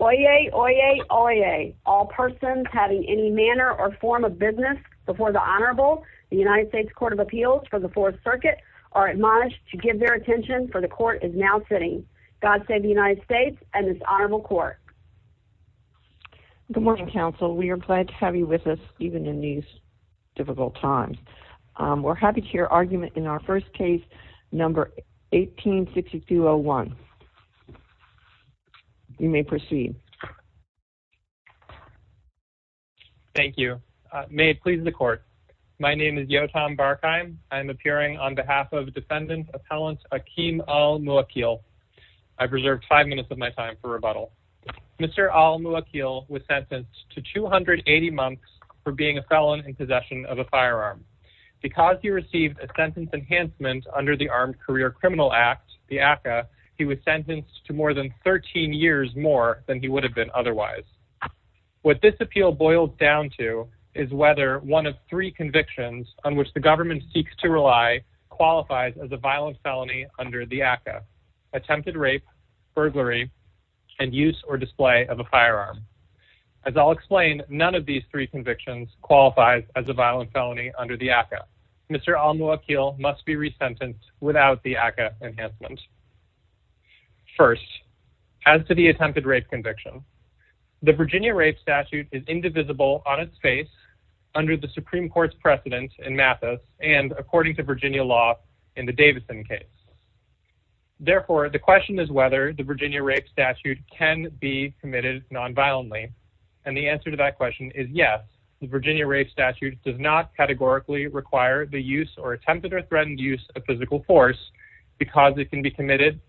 Oyez, oyez, oyez. All persons having any manner or form of business before the Honorable, the United States Court of Appeals for the Fourth Circuit, are admonished to give their attention for the Court is now sitting. God save the United States and this Honorable Court. Good morning, counsel. We are glad to have you with us even in these difficult times. We're happy to hear argument in our first case, number 186201. You may proceed. Thank you. May it please the Court. My name is Yotam Barkheim. I'm appearing on behalf of defendant, Appellant Akeem Al-Muwwakkil. I've reserved five minutes of my time for rebuttal. Mr. Al-Muwwakkil was sentenced to 280 months for being a felon in possession of a firearm. Because he received a sentence enhancement under the Armed Career Criminal Act, the ACCA, he was sentenced to more than 13 years more than he would have been otherwise. What this appeal boils down to is whether one of three convictions on which the government seeks to rely qualifies as a violent felony under the ACCA. Attempted rape, burglary, and use or display of a firearm. As I'll explain, none of these three convictions qualifies as a violent felony under the ACCA. Mr. Al-Muwwakkil must be resentenced without the ACCA enhancement. First, as to the attempted rape conviction, the Virginia Rape Statute is indivisible on its face under the Supreme Court's precedent in Mathis and according to Virginia law in the Davidson case. Therefore, the question is whether the Virginia Rape Statute can be The Virginia Rape Statute does not categorically require the use or attempted or threatened use of physical force because it can be committed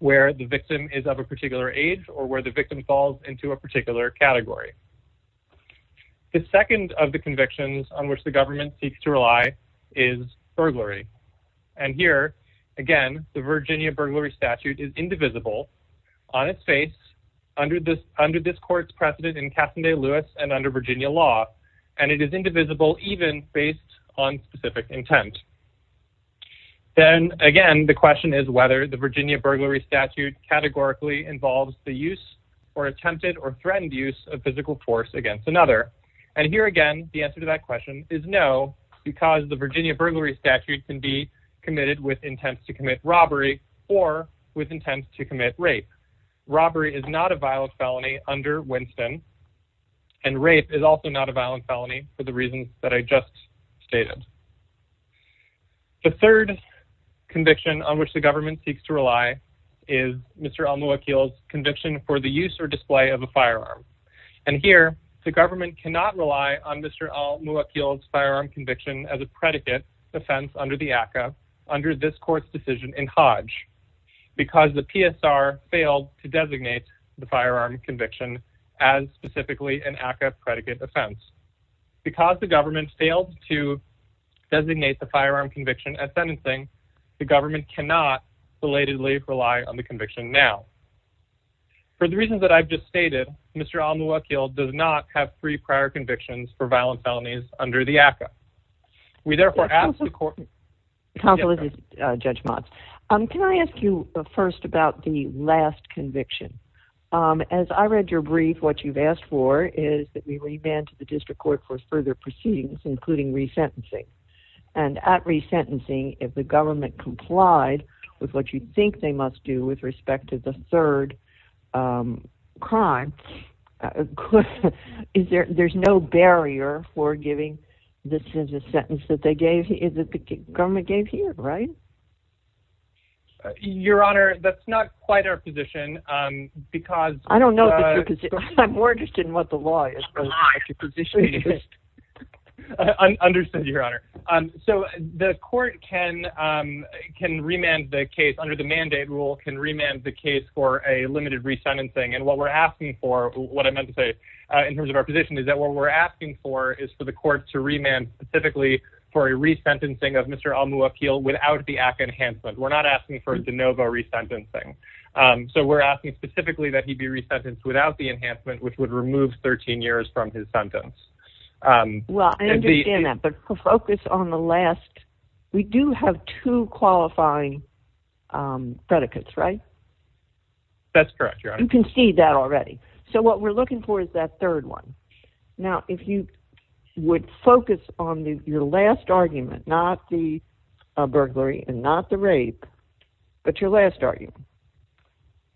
where the victim is of a particular age or where the victim falls into a particular category. The second of the convictions on which the government seeks to rely is burglary. And here, again, the Virginia Burglary Statute is indivisible on its face under this court's precedent in Cassonday Lewis and under Virginia law. And it is indivisible even based on specific intent. Then, again, the question is whether the Virginia Burglary Statute categorically involves the use or attempted or threatened use of physical force against another. And here, again, the answer to that question is no because the Virginia Burglary Statute can be committed with intents to commit robbery or with intents to commit rape. Robbery is not a violent felony under Winston and rape is also not a violent felony for the reasons that I just stated. The third conviction on which the government seeks to rely is Mr. Al-Muakil's conviction for the use or display of a firearm. And here, the government cannot rely on Mr. Al-Muakil's firearm conviction as a predicate defense under the ACCA under this court's decision in Hodge because the government failed to designate the firearm conviction at sentencing. The government cannot belatedly rely on the conviction now. For the reasons that I've just stated, Mr. Al-Muakil does not have three prior convictions for violent felonies under the ACCA. We therefore ask the court... Counselor, this is Judge Motz. Can I ask you first about the last conviction? As I read your brief, what you've asked for is that we remand to the district court for further proceedings including resentencing. And at resentencing, if the government complied with what you think they must do with respect to the third crime, there's no barrier for giving the sentence that the government gave here, right? Your Honor, that's not quite our position because... I don't know if it's your position. I'm more interested in what the law is. Understood, Your Honor. So the court can remand the case under the mandate rule, can remand the case for a limited resentencing. And what we're asking for, what I meant to say in terms of our position is that what we're asking for is for the court to remand specifically for a resentencing of Mr. Almuakil without the ACCA enhancement. We're not asking for de novo resentencing. So we're asking specifically that he be resentenced without the enhancement which would remove 13 years from his sentence. Well, I understand that, but focus on the last... We do have two qualifying predicates, right? That's correct, Your Honor. You can see that already. So what we're looking for is that third one. Now, if you would focus on your last argument, not the burglary and not the rape, but your last argument,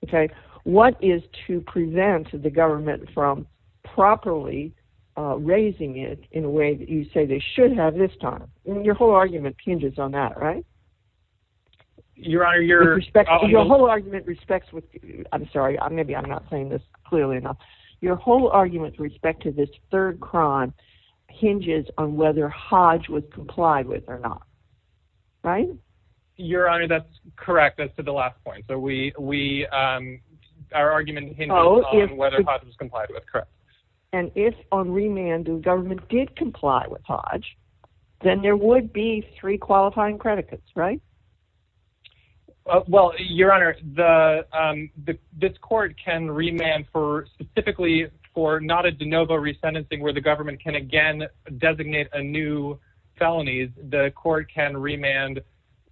okay? What is to prevent the government from properly raising it in a way that you say they should have this time? Your whole argument hinges on that, right? Your Honor, your... Your whole argument respects... I'm sorry, maybe I'm not saying this clearly enough. Your whole argument with respect to this third crime hinges on whether Hodge was complied with or not, right? Your Honor, that's correct. That's to the last point. So we... Our argument hinges on whether Hodge was complied with, correct. And if on remand the government did comply with Hodge, then there would be three qualifying predicates, right? Well, Your Honor, this court can remand for specifically for not a de novo resentencing where the government can again designate a new felonies. The court can remand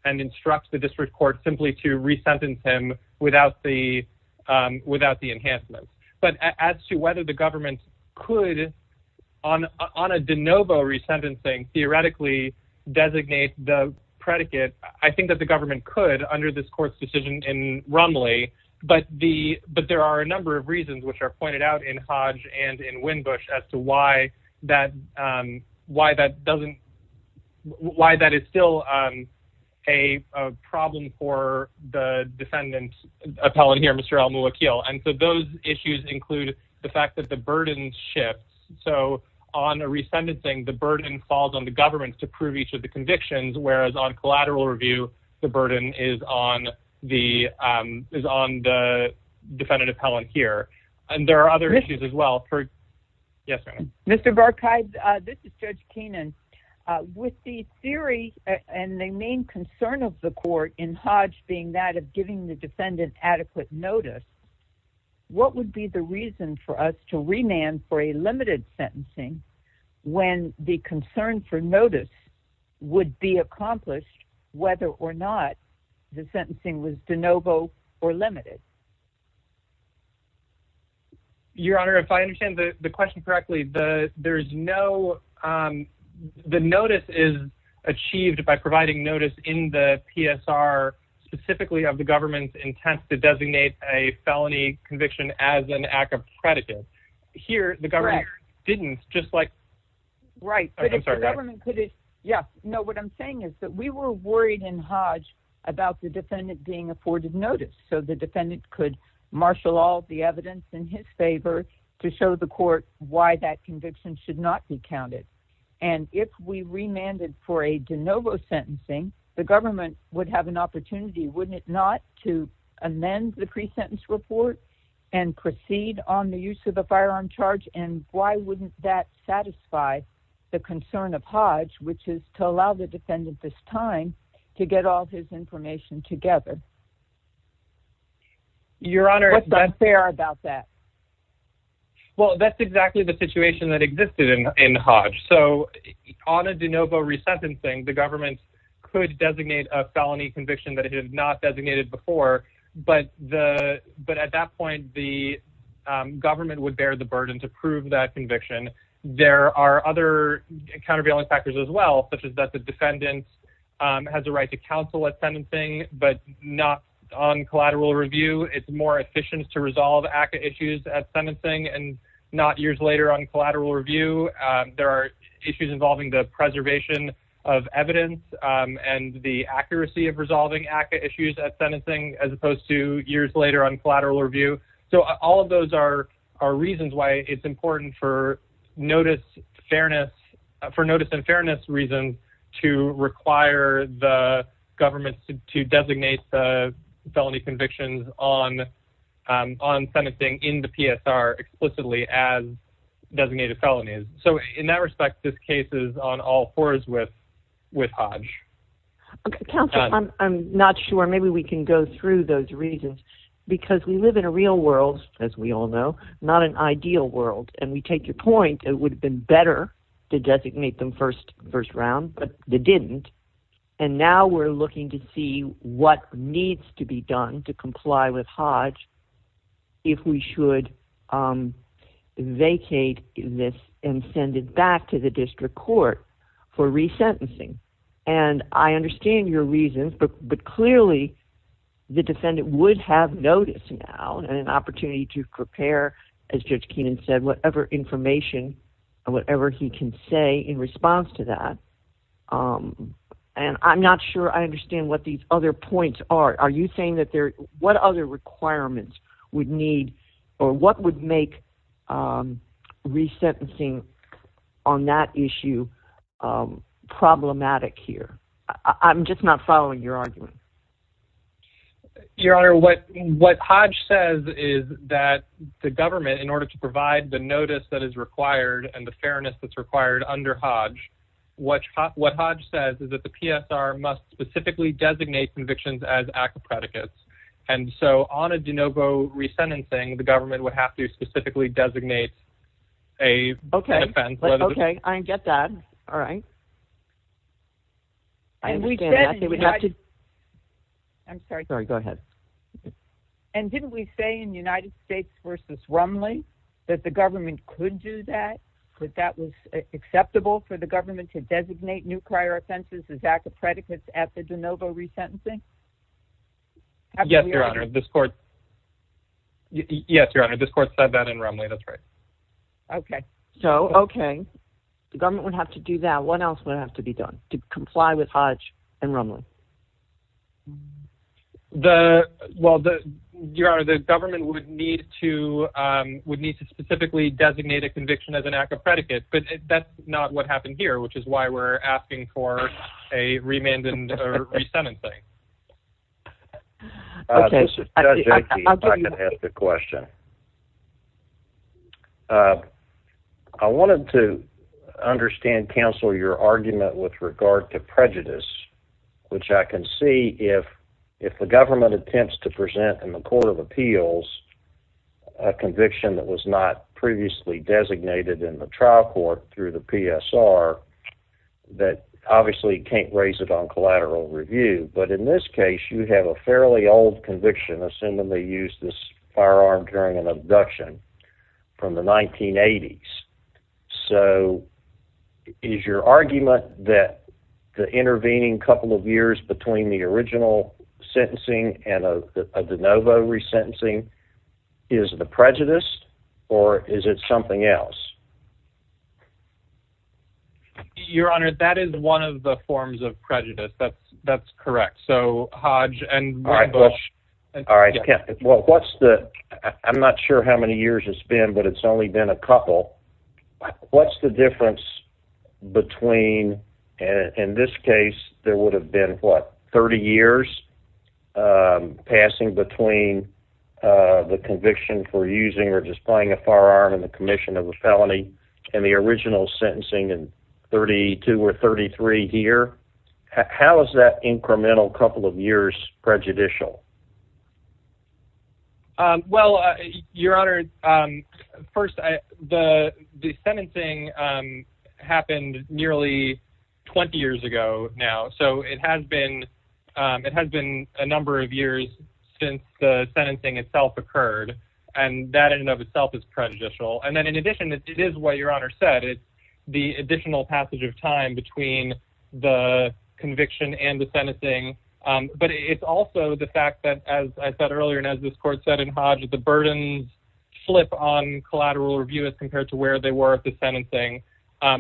and instruct the district court simply to resentence him without the enhancement. But as to whether the government could on a de novo resentencing theoretically designate the predicate, I think that the government could under this court's decision in Rumley. But there are a number of reasons which are pointed out in Hodge and in Winbush as to why that doesn't... Why that is still a problem for the defendant appellate here, Mr. Al-Muwakil. And so those issues include the fact that the burden shifts. So on a resentencing, the burden is on the defendant appellant here. And there are other issues as well for... Yes, Your Honor. Mr. Burkheim, this is Judge Keenan. With the theory and the main concern of the court in Hodge being that of giving the defendant adequate notice, what would be the reason for us to whether or not the sentencing was de novo or limited? Your Honor, if I understand the question correctly, the notice is achieved by providing notice in the PSR specifically of the government's intent to designate a felony conviction as an act of predicate. Here, the government didn't, just like... Right. But if the government could... Yeah. No, what I'm saying is that we were worried in Hodge about the defendant being afforded notice. So the defendant could marshal all the evidence in his favor to show the court why that conviction should not be counted. And if we remanded for a de novo sentencing, the government would have an opportunity, wouldn't it, not to amend the pre-sentence report and proceed on the use of a firearm charge? And why wouldn't that satisfy the concern of Hodge, which is to allow the defendant this time to get all his information together? Your Honor... What's unfair about that? Well, that's exactly the situation that existed in Hodge. So on a de novo resentencing, the government could designate a felony conviction that it had not designated before, but at that point, the government would bear the burden to prove that conviction. There are other countervailing factors as well, such as that the defendant has a right to counsel at sentencing, but not on collateral review. It's more efficient to resolve ACCA issues at sentencing and not years later on collateral review. There are issues involving the preservation of evidence and the accuracy of resolving ACCA issues at sentencing, as opposed to years later on collateral review. So all of those are reasons why it's important for notice fairness, for notice and fairness reasons, to require the government to designate the felony convictions on sentencing in the PSR explicitly as designated felonies. So in that respect, this case is on all fours with Hodge. Counselor, I'm not sure. Maybe we can go through those reasons. Because we live in a real world, as we all know, not an ideal world. And we take your point, it would have been better to designate them first round, but they didn't. And now we're looking to see what needs to be done to comply with Hodge if we should vacate this and send it back to the district court for resentencing. And I understand your reasons, but clearly the defendant would have notice now and an opportunity to prepare, as Judge Keenan said, whatever information and whatever he can say in response to that. And I'm not sure I understand what these other points are. Are you saying that there, what other requirements would need or what would make resentencing on that issue problematic here? I'm just not following your argument. Your Honor, what Hodge says is that the government, in order to provide the notice that is required and the fairness that's required under Hodge, what Hodge says is that the PSR must specifically designate convictions as active predicates. And so on a de novo resentencing, the government would have to specifically designate a... Okay. Okay. I get that. All right. I'm sorry. Sorry. Go ahead. And didn't we say in the United States versus Romney that the government could do that, that that was acceptable for the government to designate new prior offenses as active predicates after de novo resentencing? Yes, Your Honor. This court said that in Romney. That's right. Okay. So, okay. The government would have to do that. What else would have to be done to comply with Hodge and Romney? Well, Your Honor, the government would need to specifically designate a conviction as an active predicate, but that's not what happened here, which is why we're asking for a remand and a resentencing. This is Judge Akey. If I could ask a question. I wanted to understand, counsel, your argument with regard to prejudice, which I can see if the government attempts to present in the Court of Appeals a conviction that was not previously designated in the trial court through the PSR that obviously can't raise it on collateral review. But in this case, you have a fairly old conviction, assuming they used this firearm during an abduction from the 1980s. So is your argument that the intervening couple of years between the original sentencing and a de novo resentencing is the prejudice or is it something else? Your Honor, that is one of the forms of prejudice. That's that's correct. So Hodge and Bush. All right. Well, what's the I'm not sure how many years it's been, but it's only been a couple. What's the difference between and in this case, there would have been, what, 30 years passing between the conviction for using or just playing a firearm in the commission of a felony and the original sentencing in 32 or 33 here. How is that incremental couple of years prejudicial? Well, Your Honor, first, the sentencing happened nearly 20 years ago now. So it has been it has been a number of years since the sentencing itself occurred. And that in and of itself is prejudicial. And then in addition, it is what Your Honor said. It's the additional fact that as I said earlier, and as this court said in Hodge, the burdens flip on collateral review as compared to where they were at the sentencing.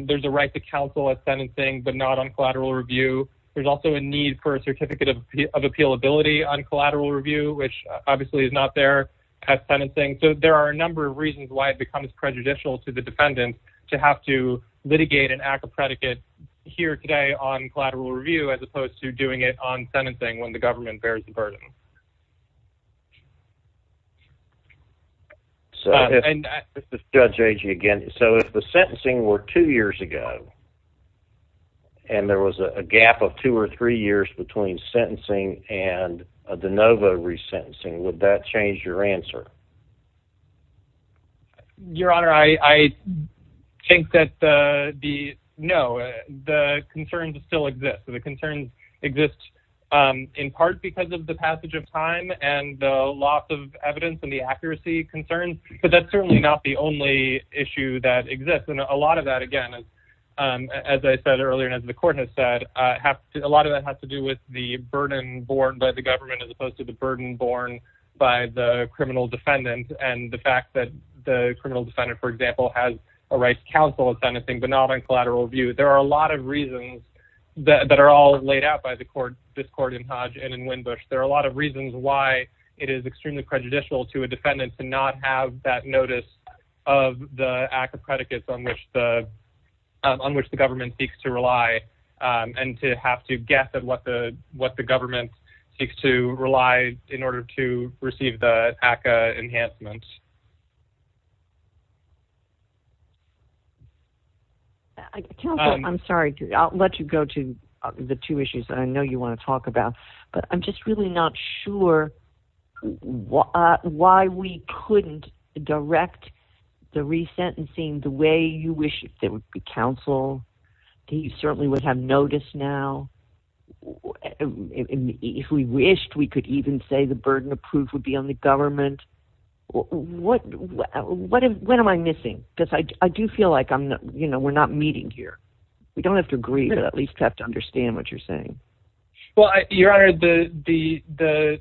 There's a right to counsel a sentencing, but not on collateral review. There's also a need for a certificate of appeal ability on collateral review, which obviously is not there as sentencing. So there are a number of reasons why it becomes prejudicial to the defendant to have to litigate an act of predicate here today on collateral review as opposed to doing it on sentencing when the government bears the burden. So if the sentencing were two years ago, and there was a gap of two or three years between sentencing and a de novo resentencing, would that change your answer? Your Honor, I think that the no, the concerns still exist. So the concerns exist in part because of the passage of time and the loss of evidence and the accuracy concerns. But that's certainly not the only issue that exists. And a lot of that, again, as I said earlier, and as the court has said, a lot of that has to do with the burden borne by the government as opposed to the burden borne by the criminal defendant. And the fact that the criminal defendant, for example, has a right to counsel a sentencing, but not on collateral review. There are a lot of reasons that are all laid out by this court in Hodge and in Winbush. There are a lot of reasons why it is extremely prejudicial to a defendant to not have that notice of the act of predicates on which the government seeks to rely and to have to guess at what the government seeks to rely in order to receive the ACCA enhancements. Counsel, I'm sorry. I'll let you go to the two issues that I know you want to talk about. But I'm just really not sure why we couldn't direct the resentencing the way you wish it would. If we wished, we could even say the burden of proof would be on the government. What am I missing? Because I do feel like we're not meeting here. We don't have to agree to at least have to understand what you're saying. Well, Your Honor, the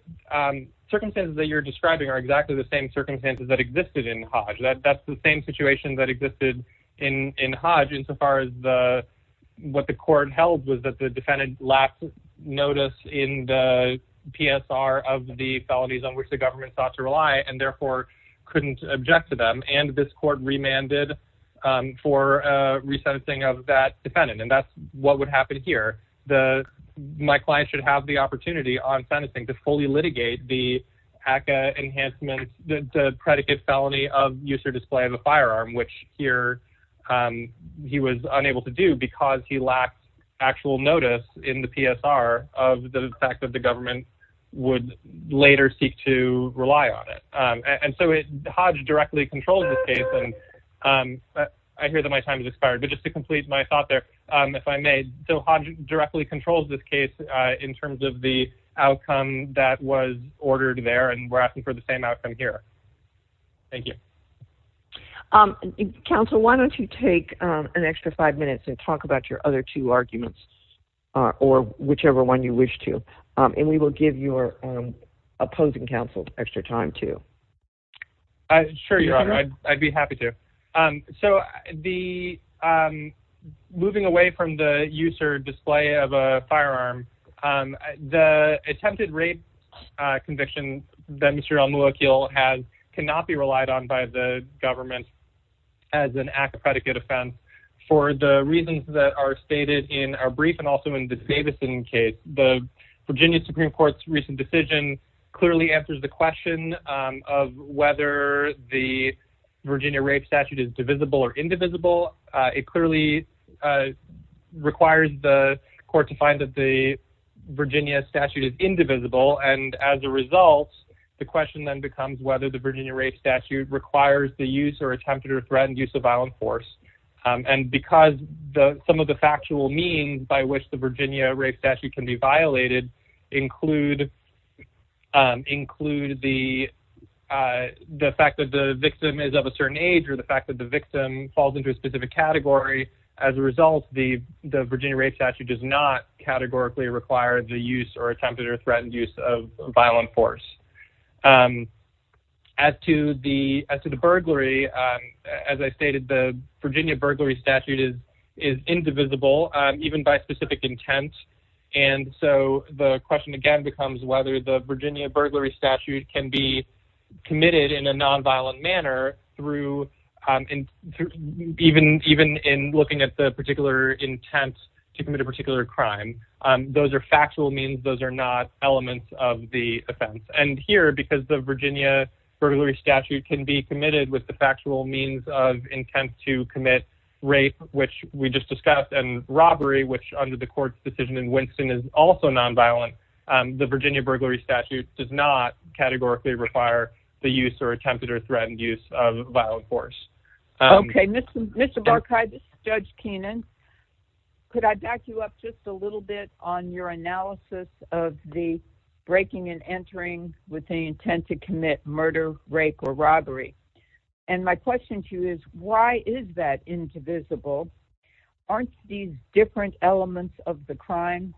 circumstances that you're describing are exactly the same circumstances that existed in Hodge. That's the same situation that existed in Hodge insofar as what the notice in the PSR of the felonies on which the government sought to rely and therefore couldn't object to them. And this court remanded for resentencing of that defendant. And that's what would happen here. My client should have the opportunity on sentencing to fully litigate the ACCA enhancement, the predicate felony of use or display of a firearm, which here he was unable to do because he lacked actual notice in the PSR of the fact that the government would later seek to rely on it. And so Hodge directly controls this case. And I hear that my time has expired, but just to complete my thought there, if I may. So Hodge directly controls this case in terms of the outcome that was ordered there. And we're asking for the same outcome here. Thank you. Counsel, why don't you take an extra five minutes and talk about your other two arguments or whichever one you wish to. And we will give your opposing counsel extra time to. Sure, Your Honor, I'd be happy to. So the moving away from the use or display of a firearm, the attempted rape conviction that Mr. Al-Muakil cannot be relied on by the government as an ACCA predicate offense for the reasons that are stated in our brief and also in the Davidson case. The Virginia Supreme Court's recent decision clearly answers the question of whether the Virginia rape statute is divisible or indivisible. It clearly requires the court to find that the Virginia statute is indivisible. And as a result, the question then becomes whether the Virginia rape statute requires the use or attempted or threatened use of violent force. And because some of the factual means by which the Virginia rape statute can be violated include the fact that the victim is of a certain age or the fact that the victim falls into a specific category. As a result, the Virginia rape statute does not categorically require the use or attempted or threatened use of violent force. As to the burglary, as I stated, the Virginia burglary statute is indivisible even by specific intent. And so the question again becomes whether the Virginia burglary statute can be committed in a nonviolent manner even in looking at the particular intent to commit a particular crime. Those are factual means. Those are not elements of the offense. And here, because the Virginia burglary statute can be committed with the factual means of intent to commit rape, which we just discussed, and robbery, which under the court's decision in Winston is also nonviolent, the Virginia burglary statute does not categorically require the use or attempted or threatened use of violent force. Okay. Mr. Barkay, this is Judge Keenan. Could I back you up just a little bit on your analysis of the breaking and entering with the intent to commit murder, rape, or robbery? And my of the crime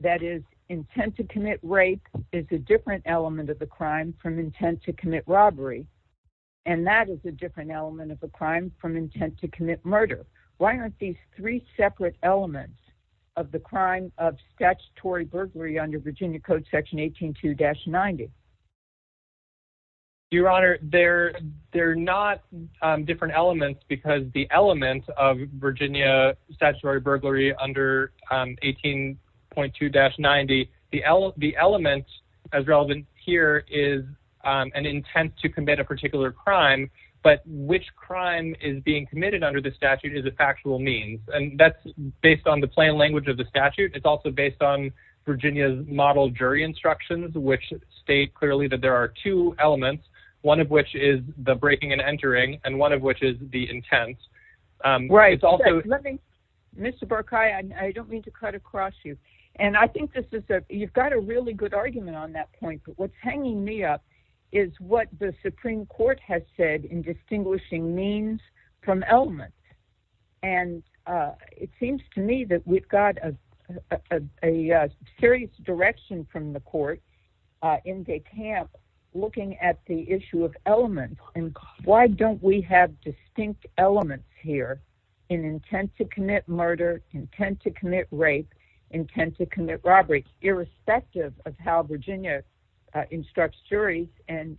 that is intent to commit rape is a different element of the crime from intent to commit robbery. And that is a different element of a crime from intent to commit murder. Why aren't these three separate elements of the crime of statutory burglary under Virginia Code Section 18-2-90? Your Honor, they're not different elements because the element of Virginia statutory burglary under 18.2-90, the element as relevant here is an intent to commit a particular crime, but which crime is being committed under the statute is a factual means. And that's based on the plain language of the statute. It's also based on Virginia's model jury instructions, which state clearly that there are two elements, one of which is the breaking and entering, and one of which is the intent. Right. Mr. Barkay, I don't mean to cut across you. And I think you've got a really good argument on that point, but what's hanging me up is what the Supreme Court has said in distinguishing means from elements. And it seems to me that we've got a serious direction from the court in DeKalb looking at the issue of elements and why don't we have distinct elements here in intent to commit murder, intent to commit rape, intent to commit robbery, irrespective of how Virginia instructs juries and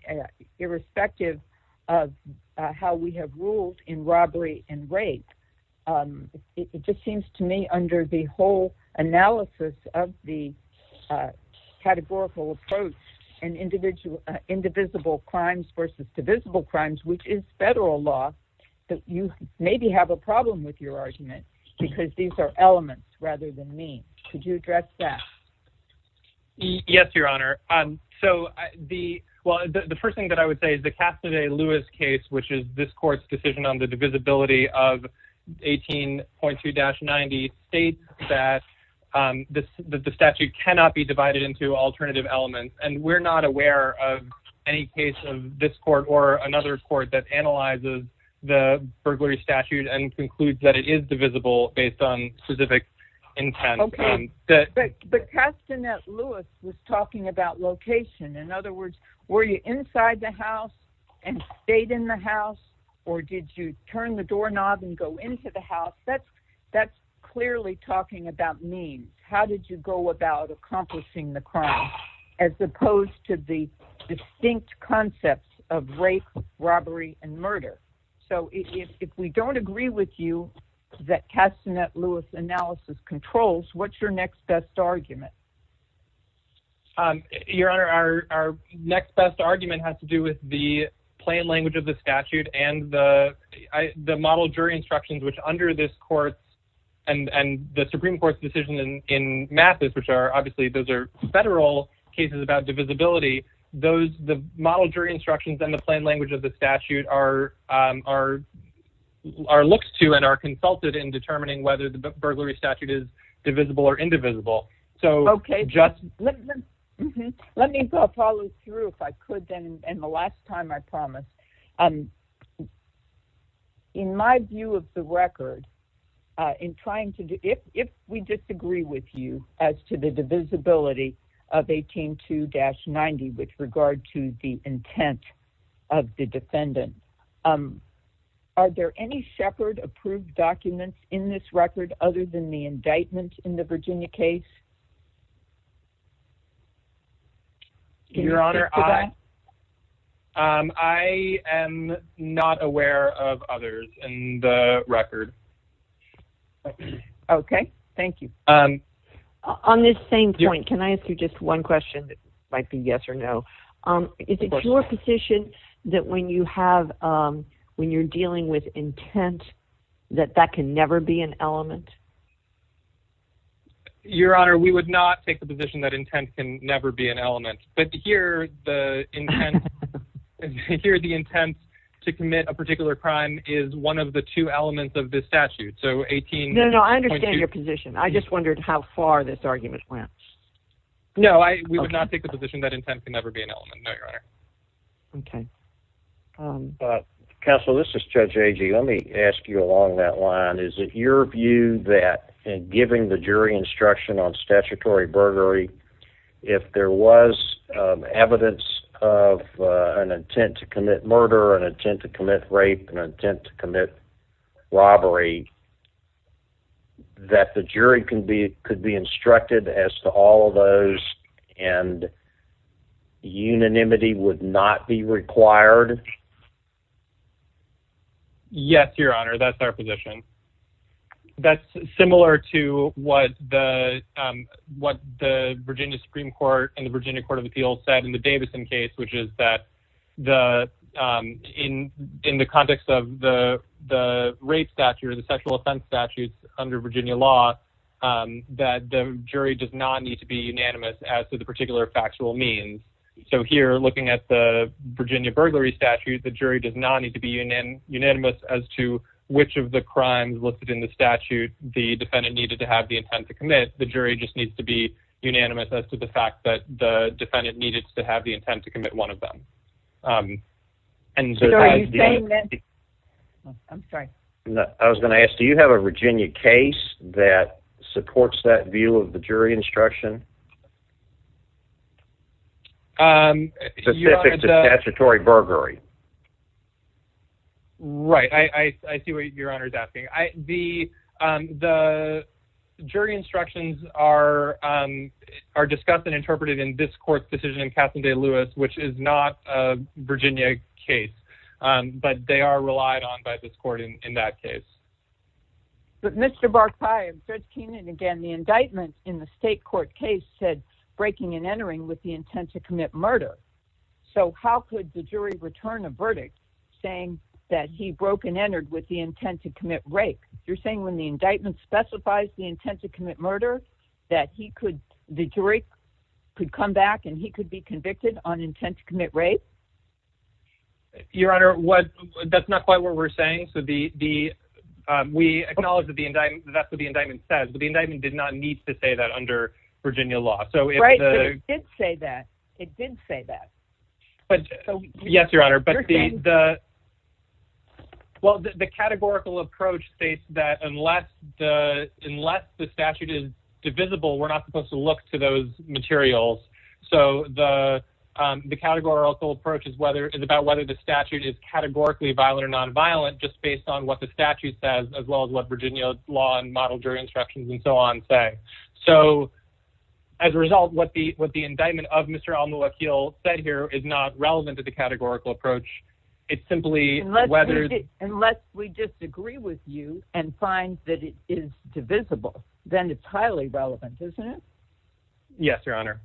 irrespective of how we have ruled in robbery and rape. It just seems to me under the whole analysis of the categorical approach and individual indivisible crimes versus divisible crimes, which is federal law, that you maybe have a problem with your argument because these are elements rather than means. Could you address that? Yes, Your Honor. So the well, the first thing that I would say is the Castanet-Lewis case, which is this court's decision on the divisibility of 18.2-90 states that the statute cannot be divided into alternative elements. And we're not aware of any case of this court or another court that analyzes the burglary statute and concludes that it is divisible based on specific intent. But Castanet-Lewis was talking about location. In other words, were you inside the house and stayed in the house or did you turn the doorknob and go into the house? That's clearly talking about means. How did you go about accomplishing the crime as opposed to the distinct concepts of rape, robbery, and murder? So if we don't agree with you that Castanet-Lewis analysis controls, what's your next best argument? Your Honor, our next best argument has to do with the plain language of the statute and the model jury instructions, which under this court and the Supreme Court's decision in Mathis, which are obviously those are federal cases about divisibility. The model jury instructions and the plain language of the statute are looked to and are consulted in determining whether the burglary statute is divisible or indivisible. Okay. Let me follow through if I could, and the last time I promise. In my view of the record, if we disagree with you as to the divisibility of 18-2-90 with regard to the record other than the indictment in the Virginia case? Your Honor, I am not aware of others in the record. Okay. Thank you. On this same point, can I ask you just one question that might be yes or no? Is it your position that when you're dealing with intent, that that can never be an element? Your Honor, we would not take the position that intent can never be an element, but here the intent to commit a particular crime is one of the two elements of this statute. No, no, I understand your position. I just wondered how far this argument went. No, we would not take the position that intent can never be an element, no, Your Honor. Okay. Counsel, this is Judge Agee. Let me ask you along that line. Is it your view that in giving the jury instruction on statutory burglary, if there was evidence of an intent to commit murder, an intent to commit rape, an intent to commit robbery, that the jury could be exempt from all of those and unanimity would not be required? Yes, Your Honor, that's our position. That's similar to what the Virginia Supreme Court and the Virginia Court of Appeals said in the Davison case, which is that in the context of the rape statute or the sexual assault statute, the jury does not need to be unanimous as to the particular factual means. So here, looking at the Virginia burglary statute, the jury does not need to be unanimous as to which of the crimes listed in the statute the defendant needed to have the intent to commit. The jury just needs to be unanimous as to the fact that the defendant needed to have the intent to commit one of them. I was going to ask, do you have a Virginia case that supports that view of the jury instruction? Specific to statutory burglary. Right, I see what Your Honor is asking. The jury instructions are discussed and interpreted in this court's decision in Cassandre Lewis, which is not a Virginia case, but they are relied on by this court in that case. But Mr. Barkley, Judge Keenan, again, the indictment in the state court case said breaking and entering with the intent to commit murder. So how could the jury return a verdict saying that he broke and entered with the intent to commit rape? You're saying when the indictment specifies the intent to commit murder, that the jury could come back and he could be convicted on intent to commit rape? Your Honor, that's not quite what we're saying. We acknowledge that's what the indictment says, but the indictment did not need to say that under Virginia law. Right, but it did say that. Yes, Your Honor, but the categorical approach states that unless the statute is divisible, we're not supposed to look to those materials. So the categorical approach is about whether the statute is categorically violent or nonviolent, just based on what the statute says, as well as what Virginia law and model jury instructions and so on say. So as a result, what the indictment of Mr. Almuakil said here is not relevant to the categorical approach. It's simply whether... Unless we disagree with you and find that it is divisible, then it's highly relevant, isn't it? Yes, Your Honor.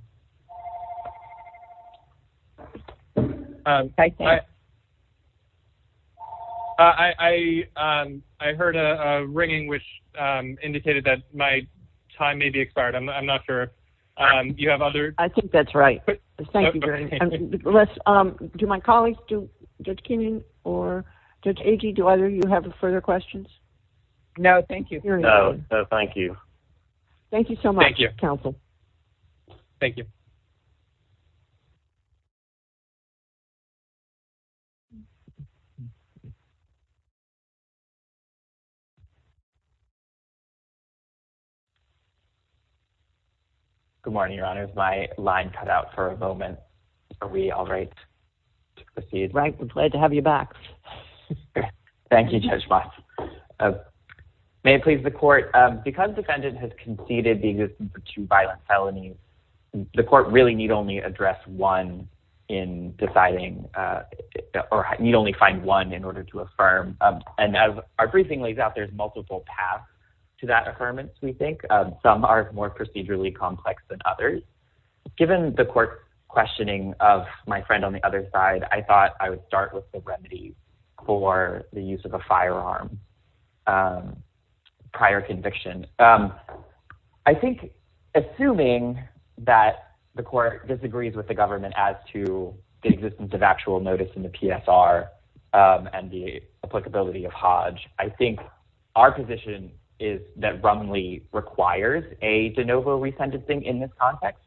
I heard a ringing which indicated that my time may be expired. I'm not sure. You have other... I think that's right. Thank you, Your Honor. Do my colleagues, Judge Kinney or Judge Agee, do either of you have further questions? No, thank you. No, thank you. Thank you so much, counsel. Thank you. Good morning, Your Honor. My line cut out for a moment. Are we all right to proceed? Right. I'm glad to have you back. Thank you, Judge Moss. May it please the court, because the defendant has conceded the existence of two violent felonies. The court really need only address one in deciding or need only find one in order to affirm. And as our briefing lays out, there's multiple paths to that affirmance, we think. Some are more procedurally complex than others. Given the court's questioning of my friend on the other side, I thought I would start with the remedies for the use of a firearm prior conviction. I think, assuming that the court disagrees with the government as to the existence of actual notice in the PSR and the applicability of Hodge, I think our position is that Rumley requires a de novo resentencing in this context.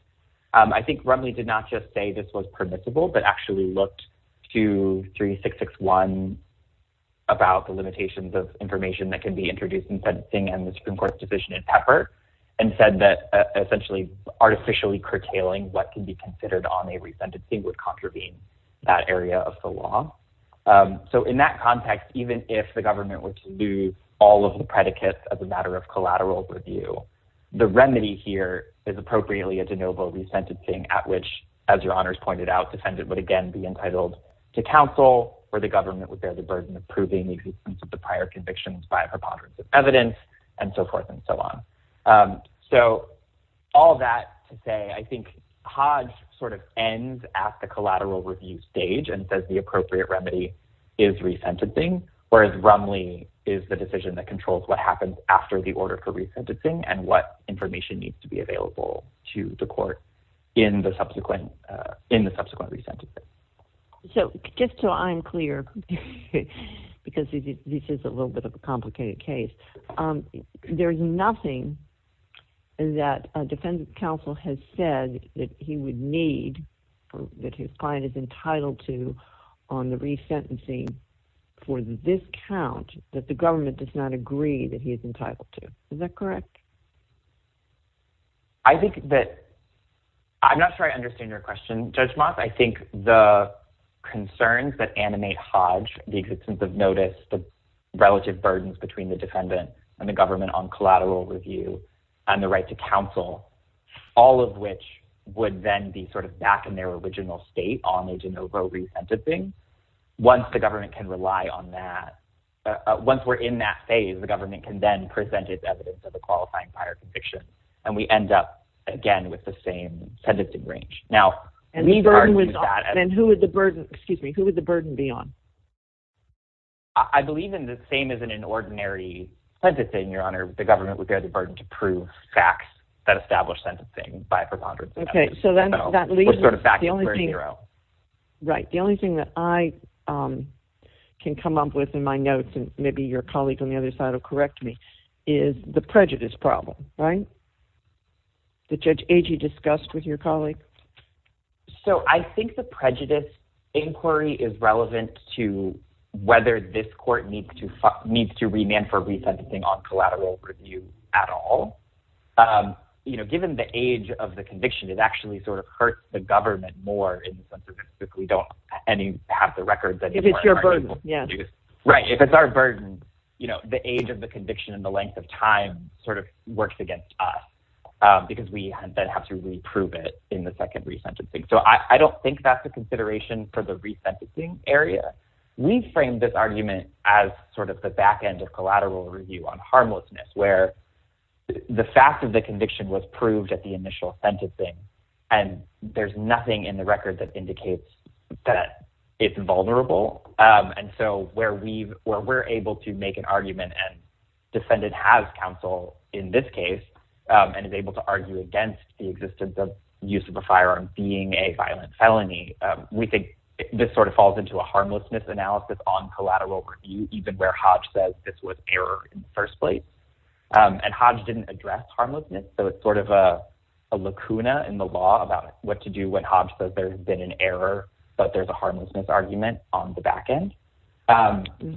I think Rumley did not just say this was permissible, but actually looked to 3661 about the limitations of information that can be introduced in sentencing and the Supreme Court's decision in Pepper, and said that essentially artificially curtailing what can be considered on a resentencing would contravene that area of the law. So in that context, even if the government were to do all of the predicates as a matter of collateral review, the remedy here is appropriately a de novo resentencing at which, as your honors pointed out, defendant would again be entitled to counsel, or the government would bear the burden of proving the existence of the prior convictions by preponderance of evidence, and so forth and so on. So all that to say, I think Hodge sort of ends at the collateral review stage and says the appropriate remedy is resentencing, whereas Rumley is the decision that controls what happens after the order for resentencing and what information needs to be available to the court in the subsequent resentencing. So just so I'm clear, because this is a little bit of a complicated case, there's nothing that a defendant's counsel has said that he would need, that his client is entitled to on the resentencing for this count that the government does not agree that he is entitled to. Is that correct? I think that, I'm not sure I understand your question, Judge Moth. I think the concerns that animate Hodge, the existence of notice, the relative burdens between the defendant and the government on collateral review and the right to counsel, all of which would then be sort of back in their original state on a de novo resentencing, once the government can rely on that, once we're in that phase, the government can then present its evidence of a qualifying prior conviction, and we end up again with the same sentencing range. And who would the burden be on? I believe in the same as in an ordinary sentencing, Your Honor, the government would bear the burden to prove facts that establish sentencing by a preponderance of evidence. Right. The only thing that I can come up with in my notes, and maybe your colleague on the other side will correct me, is the prejudice problem. That Judge Agee discussed with your colleague. So I think the prejudice inquiry is relevant to whether this court needs to remand for resentencing on collateral review at all. Given the age of the conviction, it actually sort of hurts the government more in the sense that we don't have the records anymore. If it's your burden. Right. If it's our burden, the age of the conviction and the length of time sort of works against us, because we then have to reprove it in the second resentencing. So I don't think that's a consideration for the resentencing area. We framed this argument as sort of the back end of collateral review on harmlessness, where the fact of the conviction was proved at the initial sentencing, and there's nothing in the record that indicates that it's vulnerable. And so where we're able to make an argument, and defendant has counsel in this case, and is able to argue against the existence of use of a firearm being a violent felony, we think this sort of falls into a harmlessness analysis on collateral review, even where Hodge says this was error in the first place. And Hodge didn't address harmlessness, so it's sort of a lacuna in the law about what to do when Hodge says there's been an error, but there's a harmlessness argument on the back end.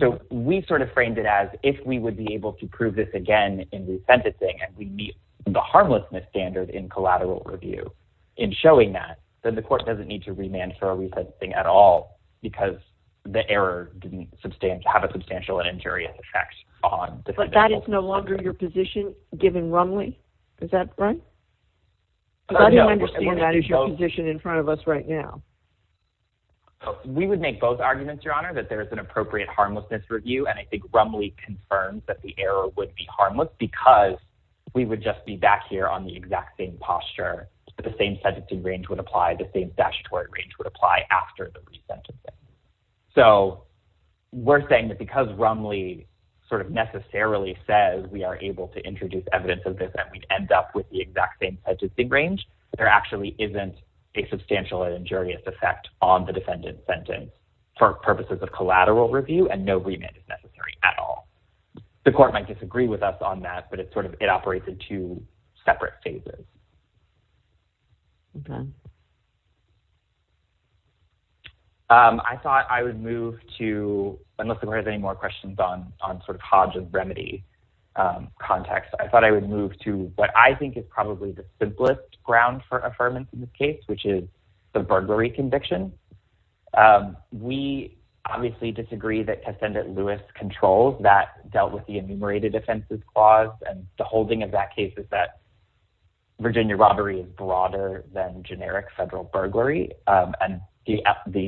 So we sort of framed it as if we would be able to prove this again in resentencing, and we meet the harmlessness standard in collateral review in showing that, then the court doesn't need to remand for a resentencing at all, because the error didn't have a substantial and injurious effect on the conviction. But that is no longer your position, given Rumley? Is that right? I don't understand why that is your position in front of us right now. We would make both arguments, Your Honor, that there is an appropriate harmlessness review, and I think Rumley confirms that the error would be harmless, because we would just be back here on the exact same posture, the same sentencing range would apply, the same statutory range would apply after the resentencing. So we're saying that because Rumley sort of necessarily says we are able to introduce evidence of this, and we'd end up with the exact same sentencing range, there actually isn't a substantial and injurious effect on the defendant's sentence for purposes of collateral review, and no remand is necessary at all. The court might disagree with us on that, but it sort of operates in two separate phases. I thought I would move to, unless the court has any more questions on sort of Hodge's remedy context, I thought I would move to what I think is probably the simplest ground for affirmance in this case, which is the burglary conviction. We obviously disagree that Kessendit-Lewis controls that, dealt with the enumerated offenses clause, and the holding of that case is that Virginia robbery is broader than generic federal burglary, and the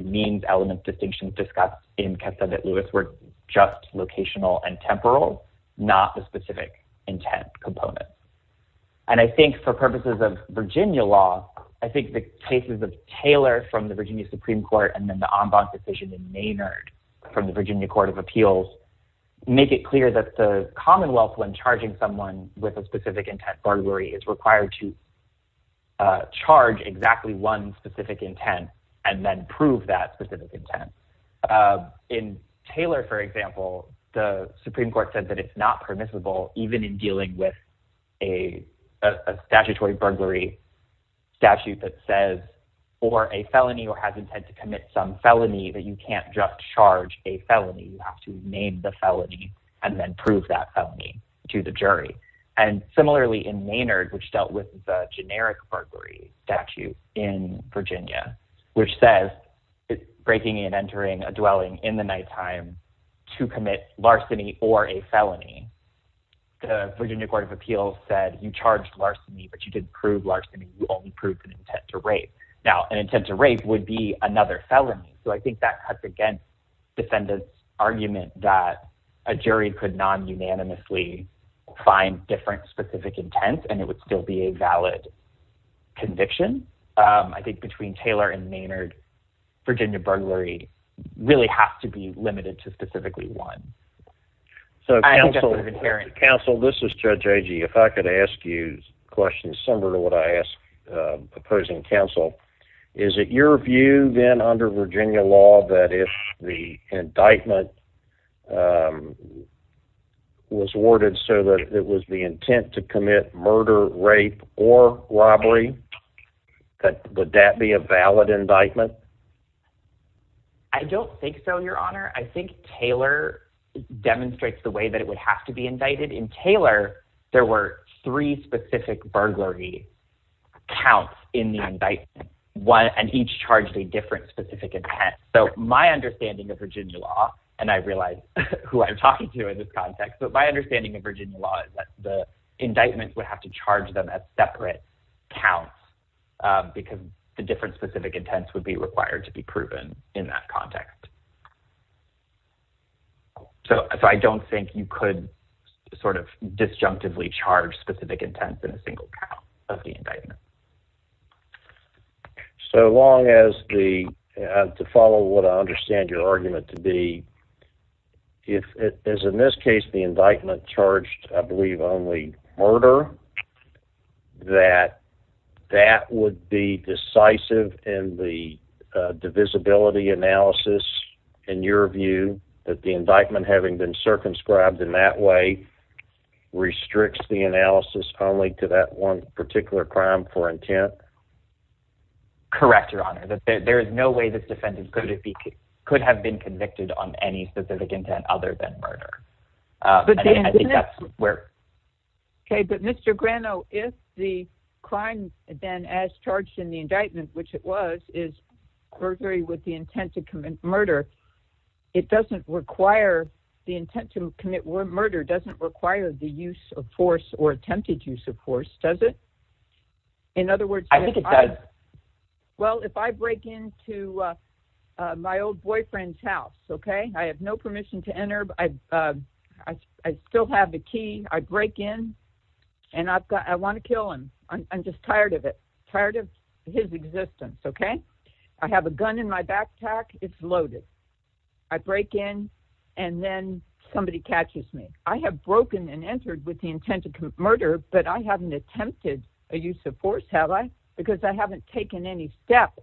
means element distinction discussed in Kessendit-Lewis were just locational and temporal, not the specific intent component. I think for purposes of Virginia law, I think the cases of Taylor from the Virginia Supreme Court, and then the en banc decision in Maynard from the Virginia Court of Appeals make it clear that the Commonwealth, when charging someone with a specific intent burglary, is required to charge exactly one specific intent, and then prove that specific intent. In Taylor, for example, the Supreme Court said that it's not permissible even in dealing with a statutory burglary statute that says for a felony or has intent to commit some felony, that you can't just charge a felony, you have to name the felony and then prove that felony to the jury. Similarly, in Maynard, which dealt with the generic burglary statute in Virginia, which says breaking and entering a dwelling in the nighttime to commit larceny or a felony, the Virginia Court of Appeals said you charged larceny, but you didn't prove larceny, you only proved an intent to rape. Now, an intent to rape would be another felony, so I think that cuts against defendants' argument that a jury could non-unanimously find different specific intents and it would still be a valid conviction. I think between Taylor and Maynard, Virginia burglary really has to be limited to specifically one. So counsel, this is Judge Agee. If I could ask you questions similar to what I asked opposing counsel, is it your view then under Virginia law that if the indictment was worded so that it was the intent to commit murder, rape, or robbery, would that be a valid indictment? I don't think so, Your Honor. I think Taylor demonstrates the way that it would have to be indicted. In Taylor, there were three specific burglary counts in the indictment and each charged a different specific intent. So my understanding of Virginia law, and I realize who I'm talking to in this context, but my understanding of Virginia law is that the indictment would have to charge them at separate counts because the different specific intents would be required to be proven in that context. So I don't think you could sort of disjunctively charge specific intents in a single count of the indictment. So long as the, to follow what I understand your argument to be, is in this case the indictment charged I believe only murder, that that would be decisive in the divisibility analysis in your view that the indictment having been circumscribed in that way restricts the analysis only to that one particular crime for intent? Correct, Your Honor. There is no way this defendant could have been convicted on any specific intent other than murder. Okay, but Mr. Grano, if the crime then as charged in the indictment, which it was, is burglary with the intent to commit murder, it doesn't require, the intent to commit murder doesn't require the use of force or attempted use of force, does it? I think it does. Well, if I break into my old boyfriend's house, okay, I have no permission to enter, I still have the key, I break in and I want to kill him. I'm just tired of it, tired of his existence, okay? I have a gun in my backpack, it's loaded. I break in and then somebody catches me. I have broken and entered with the intent to commit murder, but I haven't attempted a use of force, have I? Because I haven't taken any step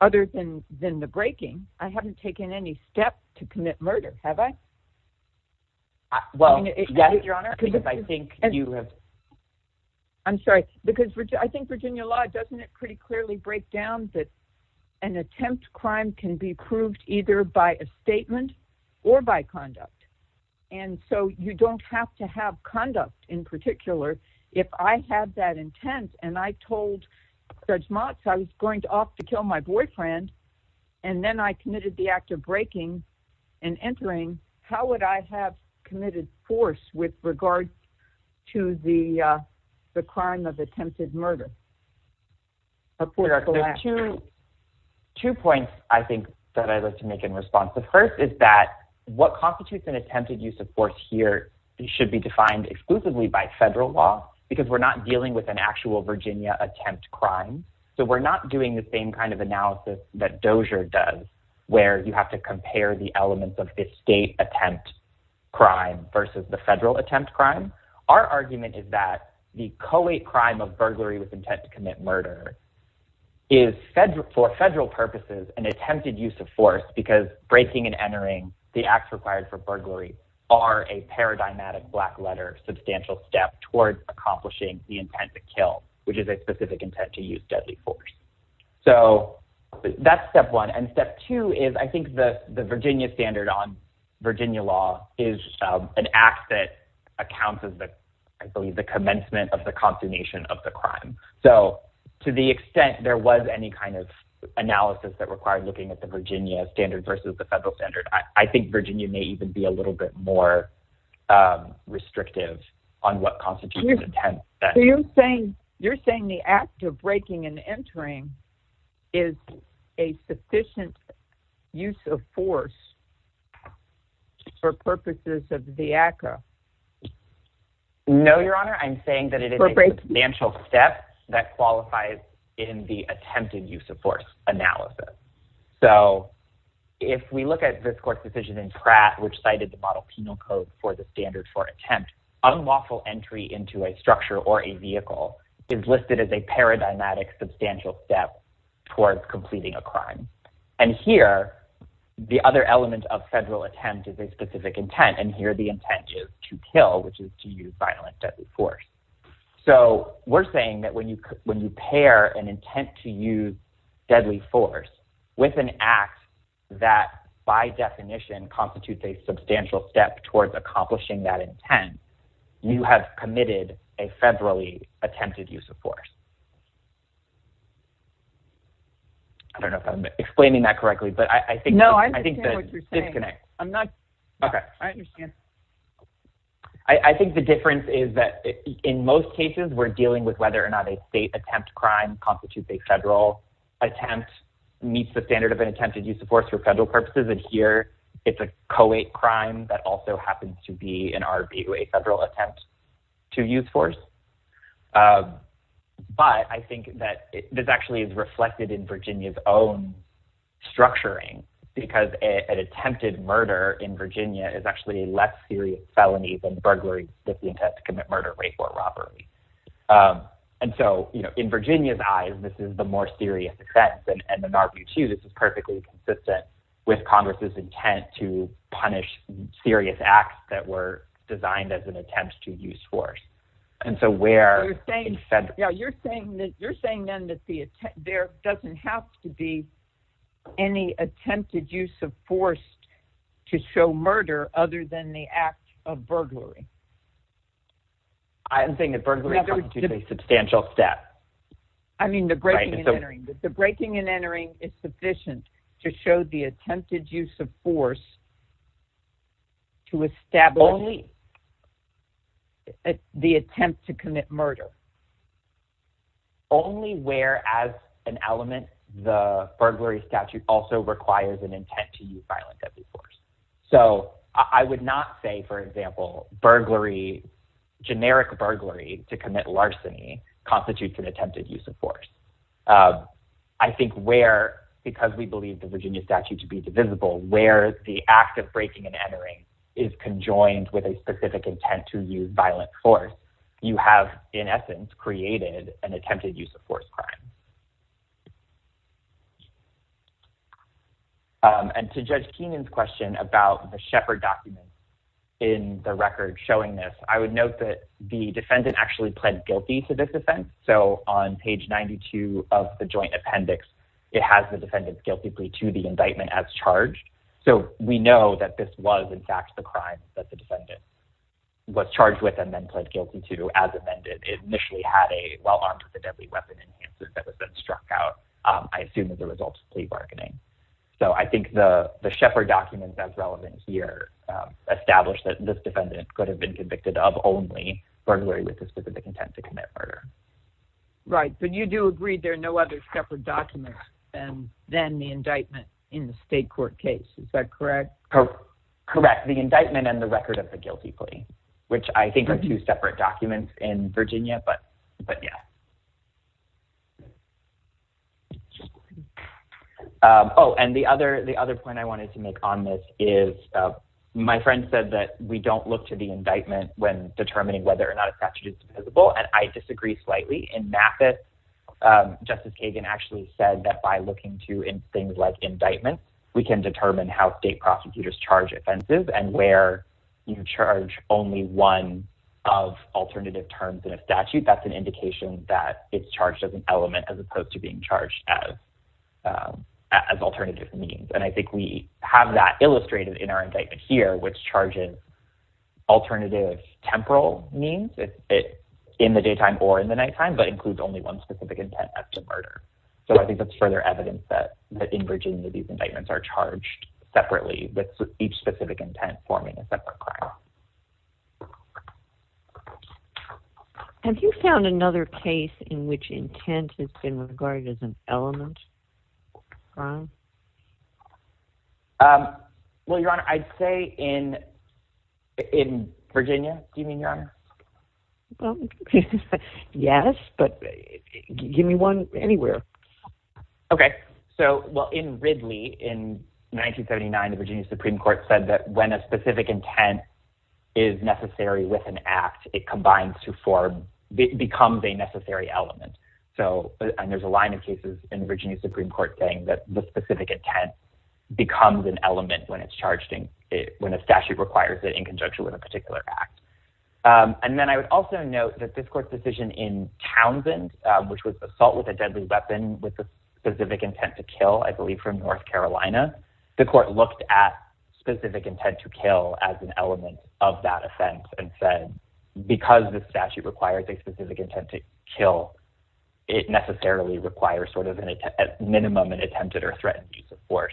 other than the breaking, I haven't taken any step to commit murder, have I? Well, yes, Your Honor, because I think you have. I'm sorry, because I think Virginia law, doesn't it pretty clearly break down that an attempt crime can be proved either by a statement or by conduct? And so you don't have to have conduct in particular if I have that intent and I told Judge Motz I was going to opt to kill my boyfriend and then I committed the act of breaking and entering, how would I have committed force with regards to the crime of attempted murder? Of course, there are two points I think that I'd like to make in response. The first is that what constitutes an attempted use of force here should be defined exclusively by federal law because we're not dealing with an actual Virginia attempt crime. So we're not doing the same kind of analysis that Dozier does where you have to compare the elements of the state attempt crime versus the federal attempt crime. Our argument is that the co-late crime of burglary with intent to commit murder is for federal purposes an attempted use of force because breaking and entering the acts required for burglary are a paradigmatic black letter substantial step towards accomplishing the intent to kill, which is a specific intent to use deadly force. So that's step one. And step two is I think the Virginia standard on Virginia law is an act that accounts as the commencement of the consummation of the crime. So to the extent there was any kind of analysis that required looking at the Virginia standard versus the federal standard, I think Virginia may even be a little bit more restrictive on what constitutes an attempt. You're saying the act of breaking and entering is a sufficient use of force for purposes of the ACA? No, Your Honor. I'm saying that it is a substantial step that qualifies in the attempted use of force analysis. So if we look at this court's decision in Pratt, which cited the model penal code for the standard for attempt, unlawful entry into a structure or a vehicle is listed as a paradigmatic substantial step towards completing a crime. And here, the other element of federal attempt is a specific intent, and here the intent is to kill, which is to use violent deadly force. So we're saying that when you pair an intent to use deadly force with an act that by definition constitutes a substantial step towards accomplishing that intent, you have committed a federally attempted use of force. I don't know if I'm explaining that correctly. No, I understand what you're saying. Okay. I understand. I think the difference is that in most cases, we're dealing with whether or not a state attempt crime constitutes a federal attempt, meets the standard of an attempted use of force for federal purposes, and here it's a co-ed crime that also happens to be an RBU, a federal attempt to use force. But I think that this actually is reflected in Virginia's own structuring because an attempted murder in Virginia is actually a less serious felony than burglary with the intent to commit murder, rape, or robbery. And so, you know, in Virginia's eyes, this is the more serious offense, and in RBU, too, this is perfectly consistent with Congress's intent to punish serious acts that were designed as an attempt to use force. And so where... Yeah, you're saying then that there doesn't have to be any attempted use of force to show murder other than the act of burglary? I'm saying that burglary constitutes a substantial step. I mean, the breaking and entering. The breaking and entering is sufficient to show the attempted use of force to establish... Only... The attempt to commit murder. Only where, as an element, the burglary statute also requires an intent to use violence as a force. So I would not say, for example, burglary, generic burglary to commit larceny, constitutes an attempted use of force. I think where, because we believe the Virginia statute to be divisible, where the act of breaking and entering is conjoined with a specific intent to use violent force, you have, in essence, created an attempted use of force crime. And to Judge Keenan's question about the Shepard document in the record showing this, I would note that the defendant actually pled guilty to this offense. So on page 92 of the joint appendix, it has the defendant's guilty plea to the indictment as charged. So we know that this was, in fact, the crime that the defendant was charged with and then pled guilty to as amended. It initially had a well-armed-with-a-deadly-weapon enhancer that was then struck out, I assume, as a result of plea bargaining. So I think the Shepard document that's relevant here established that this defendant could have been convicted of only burglary with the specific intent to commit murder. Right, but you do agree there are no other Shepard documents than the indictment in the state court case. Is that correct? Correct, the indictment and the record of the guilty plea, which I think are two separate documents in Virginia, but yeah. Oh, and the other point I wanted to make on this is my friend said that we don't look to the indictment when determining whether or not a statute is divisible, and I disagree slightly. In MAPIT, Justice Kagan actually said that by looking to things like indictments, we can determine how state prosecutors charge offenses and where you charge only one of alternative terms in a statute. That's an indication that it's charged as an element as opposed to being charged as alternative means. And I think we have that illustrated in our indictment here, which charges alternative temporal means in the daytime or in the nighttime, but includes only one specific intent as to murder. So I think that's further evidence that in Virginia these indictments are charged separately with each specific intent forming a separate crime. Have you found another case in which intent has been regarded as an element of crime? Well, Your Honor, I'd say in Virginia. Do you mean, Your Honor? Well, yes, but give me one anywhere. Okay. So, well, in Ridley in 1979, the Virginia Supreme Court said that when a specific intent is necessary with an act, it combines to form, becomes a necessary element. So, and there's a line of cases in Virginia Supreme Court saying that the specific intent becomes an element when it's charged in, when a statute requires it in conjunction with a particular act. And then I would also note that this court's decision in Townsend, which was assault with a deadly weapon with a specific intent to kill, I believe from North Carolina, the court looked at specific intent to kill as an element of that offense and said, because the statute requires a specific intent to kill, it necessarily requires sort of a minimum and attempted or threatened use of force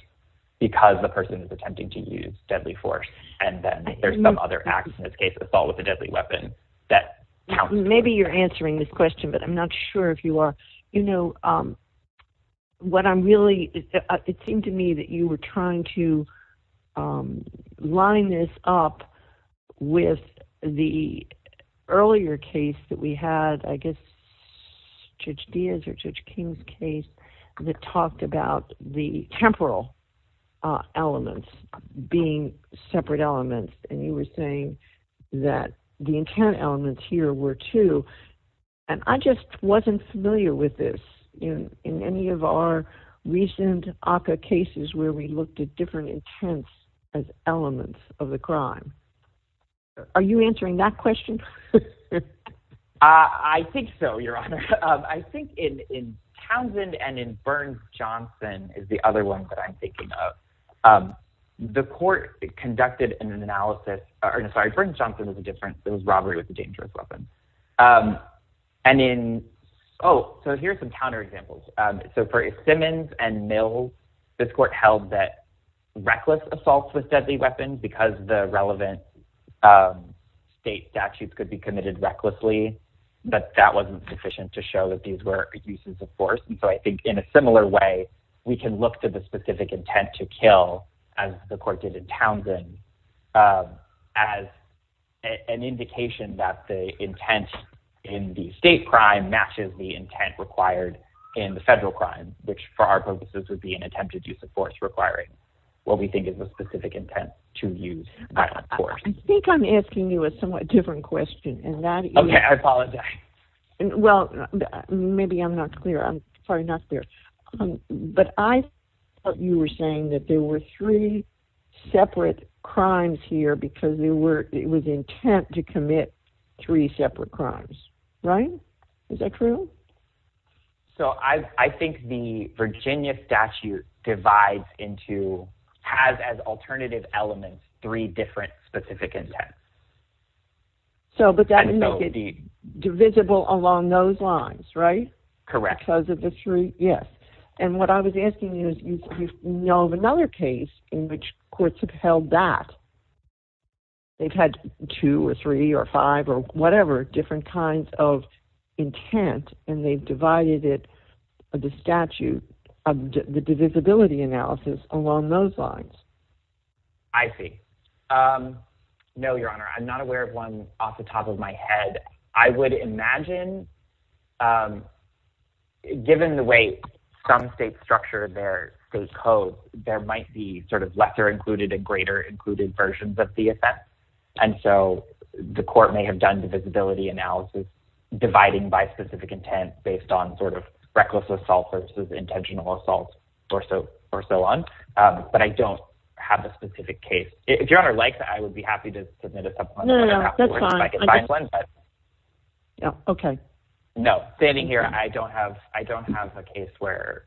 because the person is attempting to use deadly force. And then there's some other acts, in this case, assault with a deadly weapon that counts. Maybe you're answering this question, but I'm not sure if you are. It seemed to me that you were trying to line this up with the earlier case that we had, I guess Judge Diaz or Judge King's case that talked about the temporal elements being separate elements. And you were saying that the intent elements here were two, and I just wasn't familiar with this in any of our recent ACCA cases where we looked at different intents as elements of the crime. Are you answering that question? I think so, Your Honor. I think in Townsend and in Burns-Johnson is the other one that I'm thinking of. The court conducted an analysis... Sorry, Burns-Johnson is different. It was robbery with a dangerous weapon. Oh, so here's some counterexamples. So for Simmons and Mills, this court held that reckless assault with deadly weapons because the relevant state statutes could be committed recklessly, that that wasn't sufficient to show that these were uses of force. So I think in a similar way, we can look to the specific intent to kill, as the court did in Townsend, as an indication that the intent in the state crime matches the intent required in the federal crime, which for our purposes would be an attempted use of force requiring what we think is a specific intent to use violent force. I think I'm asking you a somewhat different question, and that is... OK, I apologize. Well, maybe I'm not clear. I'm sorry, not clear. But I thought you were saying that there were three separate crimes here because it was the intent to commit three separate crimes, right? Is that true? So I think the Virginia statute divides into... has as alternative elements three different specific intents. But that would make it divisible along those lines, right? Correct. Because of the three... Yes. And what I was asking is, you know of another case in which courts have held that. They've had two or three or five or whatever different kinds of intent, and they've divided it, the statute, the divisibility analysis along those lines. I see. No, Your Honour, I'm not aware of one off the top of my head. I would imagine... Given the way some states structure their code, there might be sort of lesser-included and greater-included versions of the offense. And so the court may have done divisibility analysis dividing by specific intent based on sort of reckless assault versus intentional assault or so on. But I don't have a specific case. If Your Honour likes it, I would be happy to submit a supplement. No, no, no, that's fine. Okay. No, standing here, I don't have a case where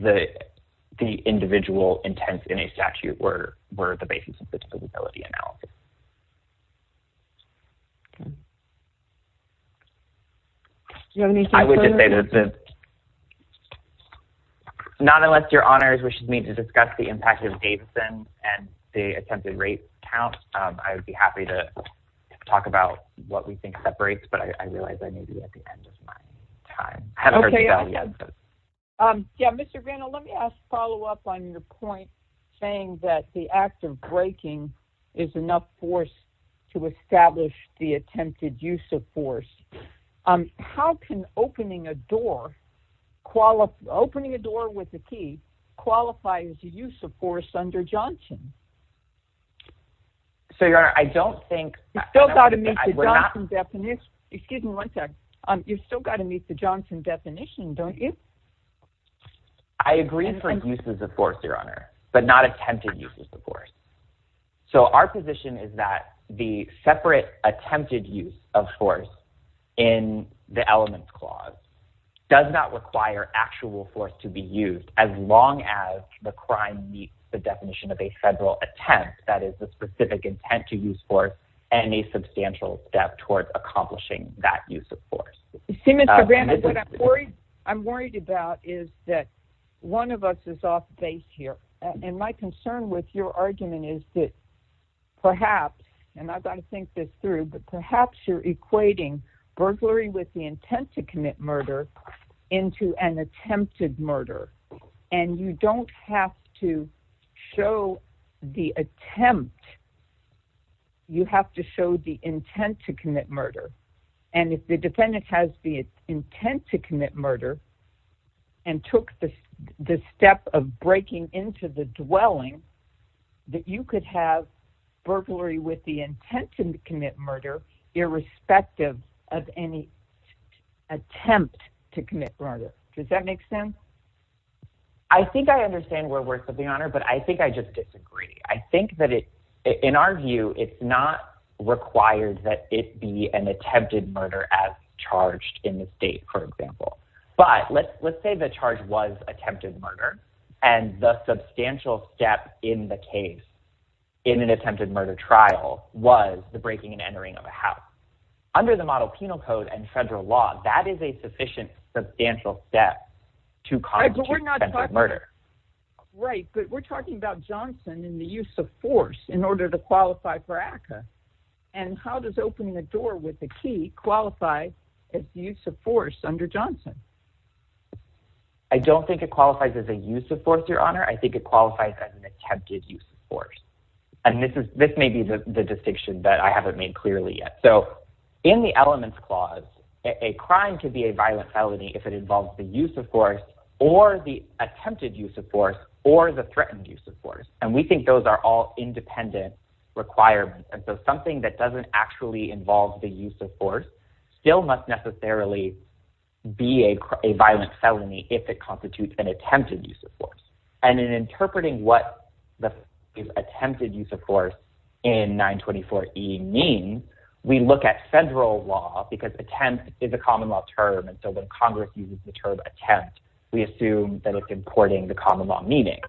the individual intents in a statute were the basis of the divisibility analysis. Do you have anything further? Not unless Your Honour wishes me to discuss the impact of Davidson and the attempted rape count, I would be happy to talk about what we think separates, but I realize I may be at the end of my time. Okay. Yeah, Mr. Vandal, let me follow up on your point saying that the act of breaking is enough force to establish the attempted use of force. How can opening a door with a key qualify as a use of force under Johnson? So, Your Honour, I don't think... You've still got to meet the Johnson definition. Excuse me one sec. You've still got to meet the Johnson definition, don't you? I agree for uses of force, Your Honour, but not attempted uses of force. So our position is that the separate attempted use of force in the elements clause does not require actual force to be used as long as the crime meets the definition of a federal attempt, that is, the specific intent to use force, and a substantial step towards accomplishing that use of force. See, Mr. Vandal, what I'm worried about is that one of us is off base here, and my concern with your argument is that perhaps, and I've got to think this through, but perhaps you're equating burglary with the intent to commit murder into an attempted murder, and you don't have to show the attempt. You have to show the intent to commit murder, and if the defendant has the intent to commit murder and took the step of breaking into the dwelling, that you could have burglary with the intent to commit murder irrespective of any attempt to commit murder. Does that make sense? I think I understand where we're coming on, but I think I just disagree. I think that in our view, it's not required that it be an attempted murder as charged in the state, for example. But let's say the charge was attempted murder, and the substantial step in the case in an attempted murder trial was the breaking and entering of a house. Under the model penal code and federal law, that is a sufficient substantial step to constitute attempted murder. Right, but we're talking about Johnson and the use of force in order to qualify for ACCA, and how does opening a door with a key qualify as the use of force under Johnson? I don't think it qualifies as a use of force, Your Honor. I think it qualifies as an attempted use of force, and this may be the distinction that I haven't made clearly yet. So in the elements clause, a crime could be a violent felony if it involves the use of force or the attempted use of force or the threatened use of force, and we think those are all independent requirements. And so something that doesn't actually involve the use of force still must necessarily be a violent felony if it constitutes an attempted use of force. And in interpreting what the attempted use of force in 924E means, we look at federal law because attempt is a common law term, and so when Congress uses the term attempt, we assume that it's importing the common law meaning.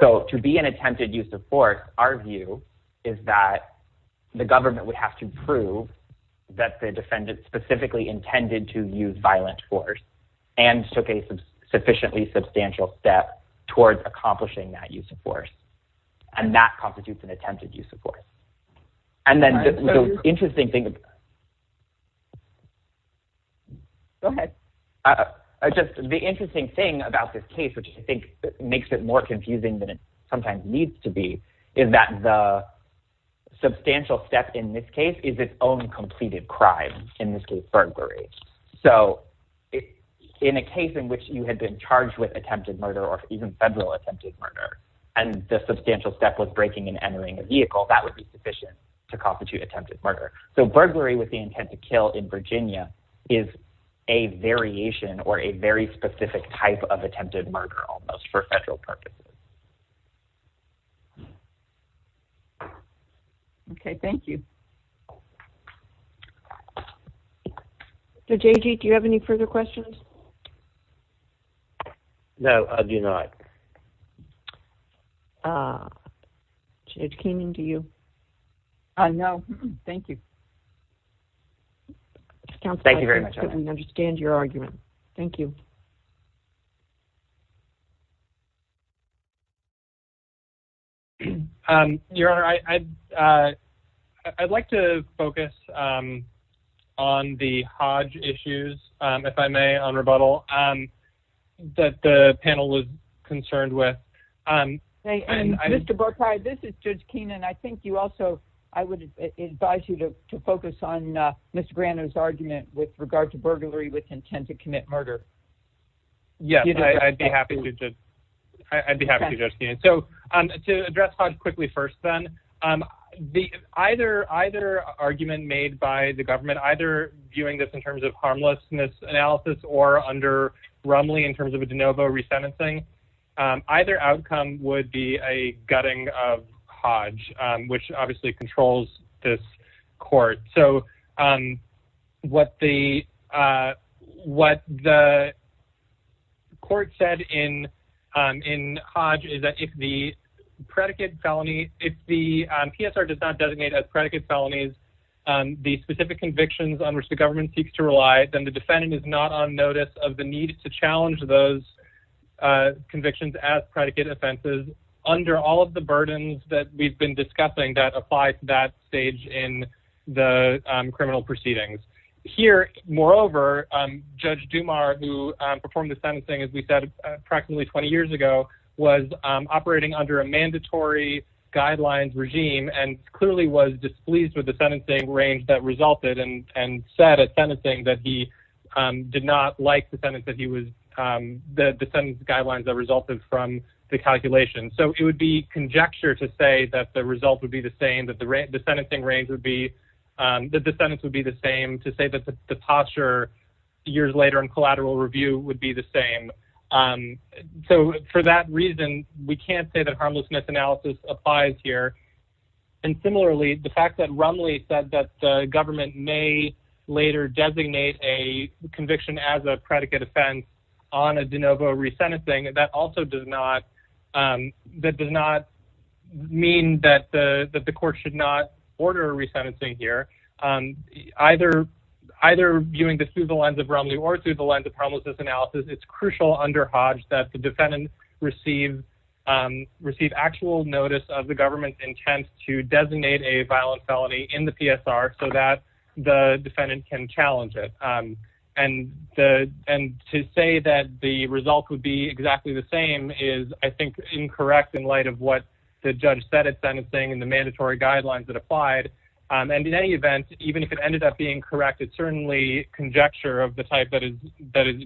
So to be an attempted use of force, our view is that the government would have to prove that the defendant specifically intended to use violent force and took a sufficiently substantial step towards accomplishing that use of force, and that constitutes an attempted use of force. Go ahead. The interesting thing about this case, which I think makes it more confusing than it sometimes needs to be, is that the substantial step in this case is its own completed crime, in this case, burglary. So in a case in which you had been charged with attempted murder or even federal attempted murder and the substantial step was breaking and entering a vehicle, that would be sufficient to constitute attempted murder. So burglary with the intent to kill in Virginia is a variation or a very specific type of attempted murder almost for federal purposes. Okay, thank you. Mr. J.G., do you have any further questions? No, I do not. Judge Keenan, do you? No, thank you. Thank you very much. I understand your argument. Thank you. Your Honor, I'd like to focus on the Hodge issues, if I may, on rebuttal, that the panel was concerned with. Mr. Burkheim, this is Judge Keenan. I think you also, I would advise you to focus on Mr. Grano's argument with regard to burglary with intent to commit murder. Yes, I'd be happy to, Judge Keenan. So to address Hodge quickly first, then, either argument made by the government, either viewing this in terms of harmlessness analysis or under Rumley in terms of a de novo resentencing, either outcome would be a gutting of Hodge, which obviously controls this court. So what the court said in Hodge is that if the predicate felony, if the PSR does not designate as predicate felonies the specific convictions on which the government seeks to rely, then the defendant is not on notice of the need to challenge those convictions as predicate offenses under all of the burdens that we've been discussing that apply to that stage in the criminal proceedings. Here, moreover, Judge Dumar, who performed the sentencing, as we said, approximately 20 years ago, was operating under a mandatory guidelines regime and clearly was displeased with the sentencing range that resulted and said at sentencing that he did not like the sentence that he was, the sentence guidelines that resulted from the calculation. So it would be conjecture to say that the result would be the same, that the sentencing range would be, that the sentence would be the same, to say that the posture years later in collateral review would be the same. So for that reason, we can't say that harmlessness analysis applies here. And similarly, the fact that Rumley said that the government may later designate a conviction as a predicate offense on a de novo resentencing, that also does not, that does not mean that the court should not order a resentencing here. Either viewing this through the lens of Rumley or through the lens of harmlessness analysis, it's crucial under Hodge that the defendant receive actual notice of the government's intent to designate a violent felony in the PSR so that the defendant can challenge it. And to say that the result would be exactly the same is I think incorrect in light of what the judge said at sentencing and the mandatory guidelines that applied. And in any event, even if it ended up being correct, it's certainly conjecture of the type that is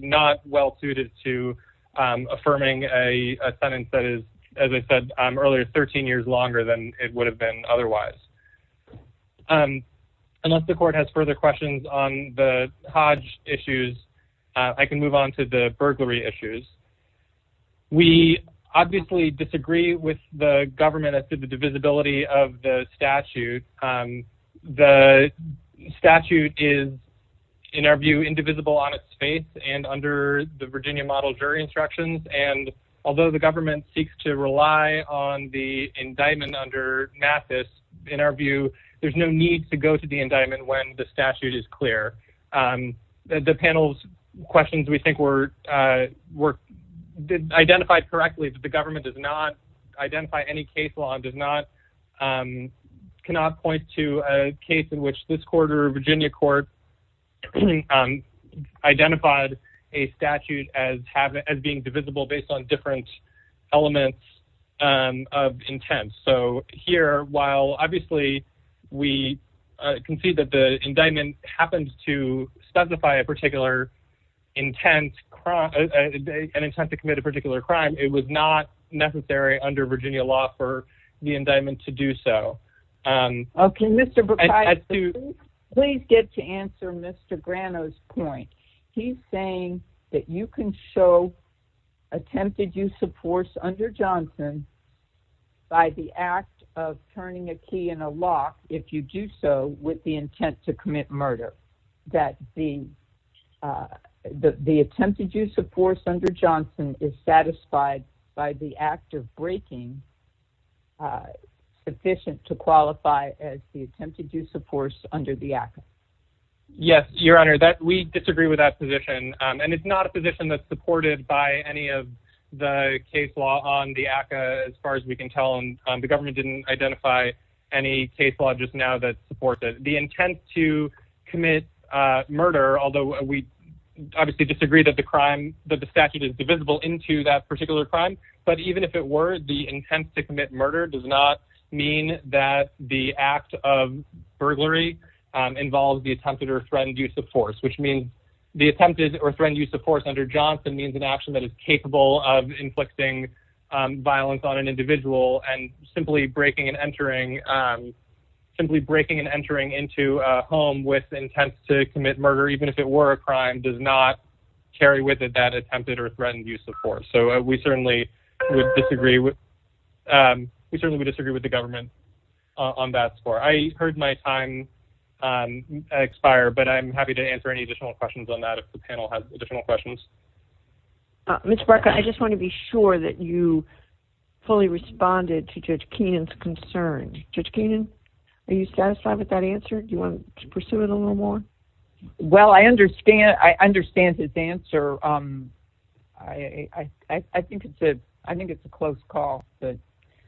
not well suited to affirming a sentence that is, as I said earlier, 13 years longer than it would have been otherwise. Unless the court has further questions on the Hodge issues, I can move on to the burglary issues. We obviously disagree with the government as to the divisibility of the statute. The statute is, in our view, indivisible on its face and under the Virginia model jury instructions. And although the government seeks to rely on the indictment under Mathis, in our view, there's no need to go to the indictment when the statute is clear. The panel's questions we think were identified correctly, but the government does not identify any case law and cannot point to a case in which this court or Virginia court identified a statute as being divisible based on different elements of intent. So here, while obviously we can see that the indictment happens to specify a particular intent to commit a particular crime, it was not necessary under Virginia law for the indictment to do so. Okay, Mr. Burkheiser, please get to answer Mr. Grano's point. He's saying that you can show attempted use of force under Johnson by the act of turning a key in a lock if you do so with the intent to commit murder, that the attempted use of force under Johnson is satisfied by the act of breaking sufficient to qualify as the attempted use of force under the act. Yes, Your Honor, we disagree with that position, and it's not a position that's supported by any of the case law on the ACCA, as far as we can tell. The government didn't identify any case law just now that supports it. The intent to commit murder, although we obviously disagree that the statute is divisible into that particular crime, but even if it were, the intent to commit murder does not mean that the act of burglary involves the attempted or threatened use of force, which means the attempted or threatened use of force under Johnson means an action that is capable of inflicting violence on an individual, and simply breaking and entering into a home with intent to commit murder, even if it were a crime, does not carry with it that attempted or threatened use of force. So we certainly would disagree with the government on that score. I heard my time expire, but I'm happy to answer any additional questions on that if the panel has additional questions. Ms. Barca, I just want to be sure that you fully responded to Judge Keenan's concerns. Judge Keenan, are you satisfied with that answer? Do you want to pursue it a little more? Well, I understand his answer. I think it's a close call, but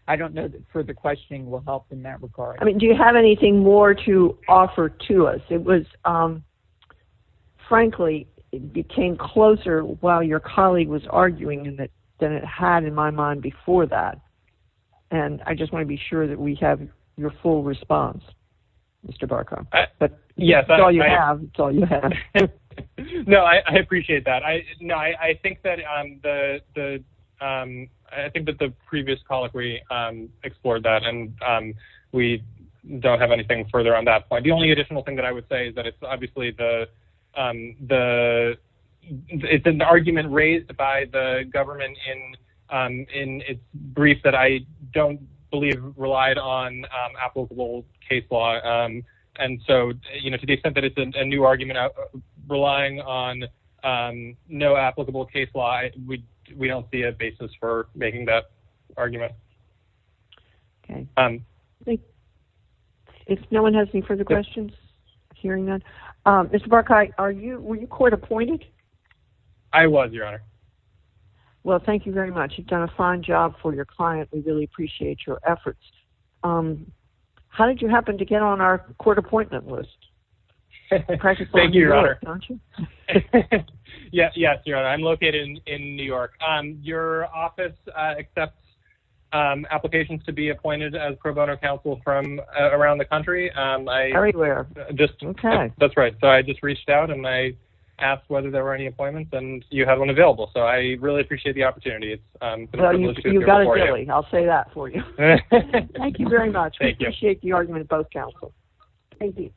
I don't know that further questioning will help in that regard. Do you have anything more to offer to us? It was, frankly, it came closer while your colleague was arguing than it had in my mind before that, and I just want to be sure that we have your full response, Mr. Barca, but it's all you have. No, I appreciate that. I think that the previous colleague explored that, and we don't have anything further on that point. The only additional thing that I would say is that it's obviously the argument raised by the government in its brief that I don't believe relied on applicable case law. And so to the extent that it's a new argument relying on no applicable case law, we don't see a basis for making that argument. If no one has any further questions, hearing that. Mr. Barca, were you court appointed? I was, Your Honor. Well, thank you very much. You've done a fine job for your client. We really appreciate your efforts. How did you happen to get on our court appointment list? Thank you, Your Honor. Yes, Your Honor, I'm located in New York. Your office accepts applications to be appointed as pro bono counsel from around the country. Everywhere, okay. That's right, so I just reached out, and I asked whether there were any appointments, and you had one available, so I really appreciate the opportunity. You've got it, Billy. I'll say that for you. Thank you very much. We appreciate the argument of both counsels. Thank you.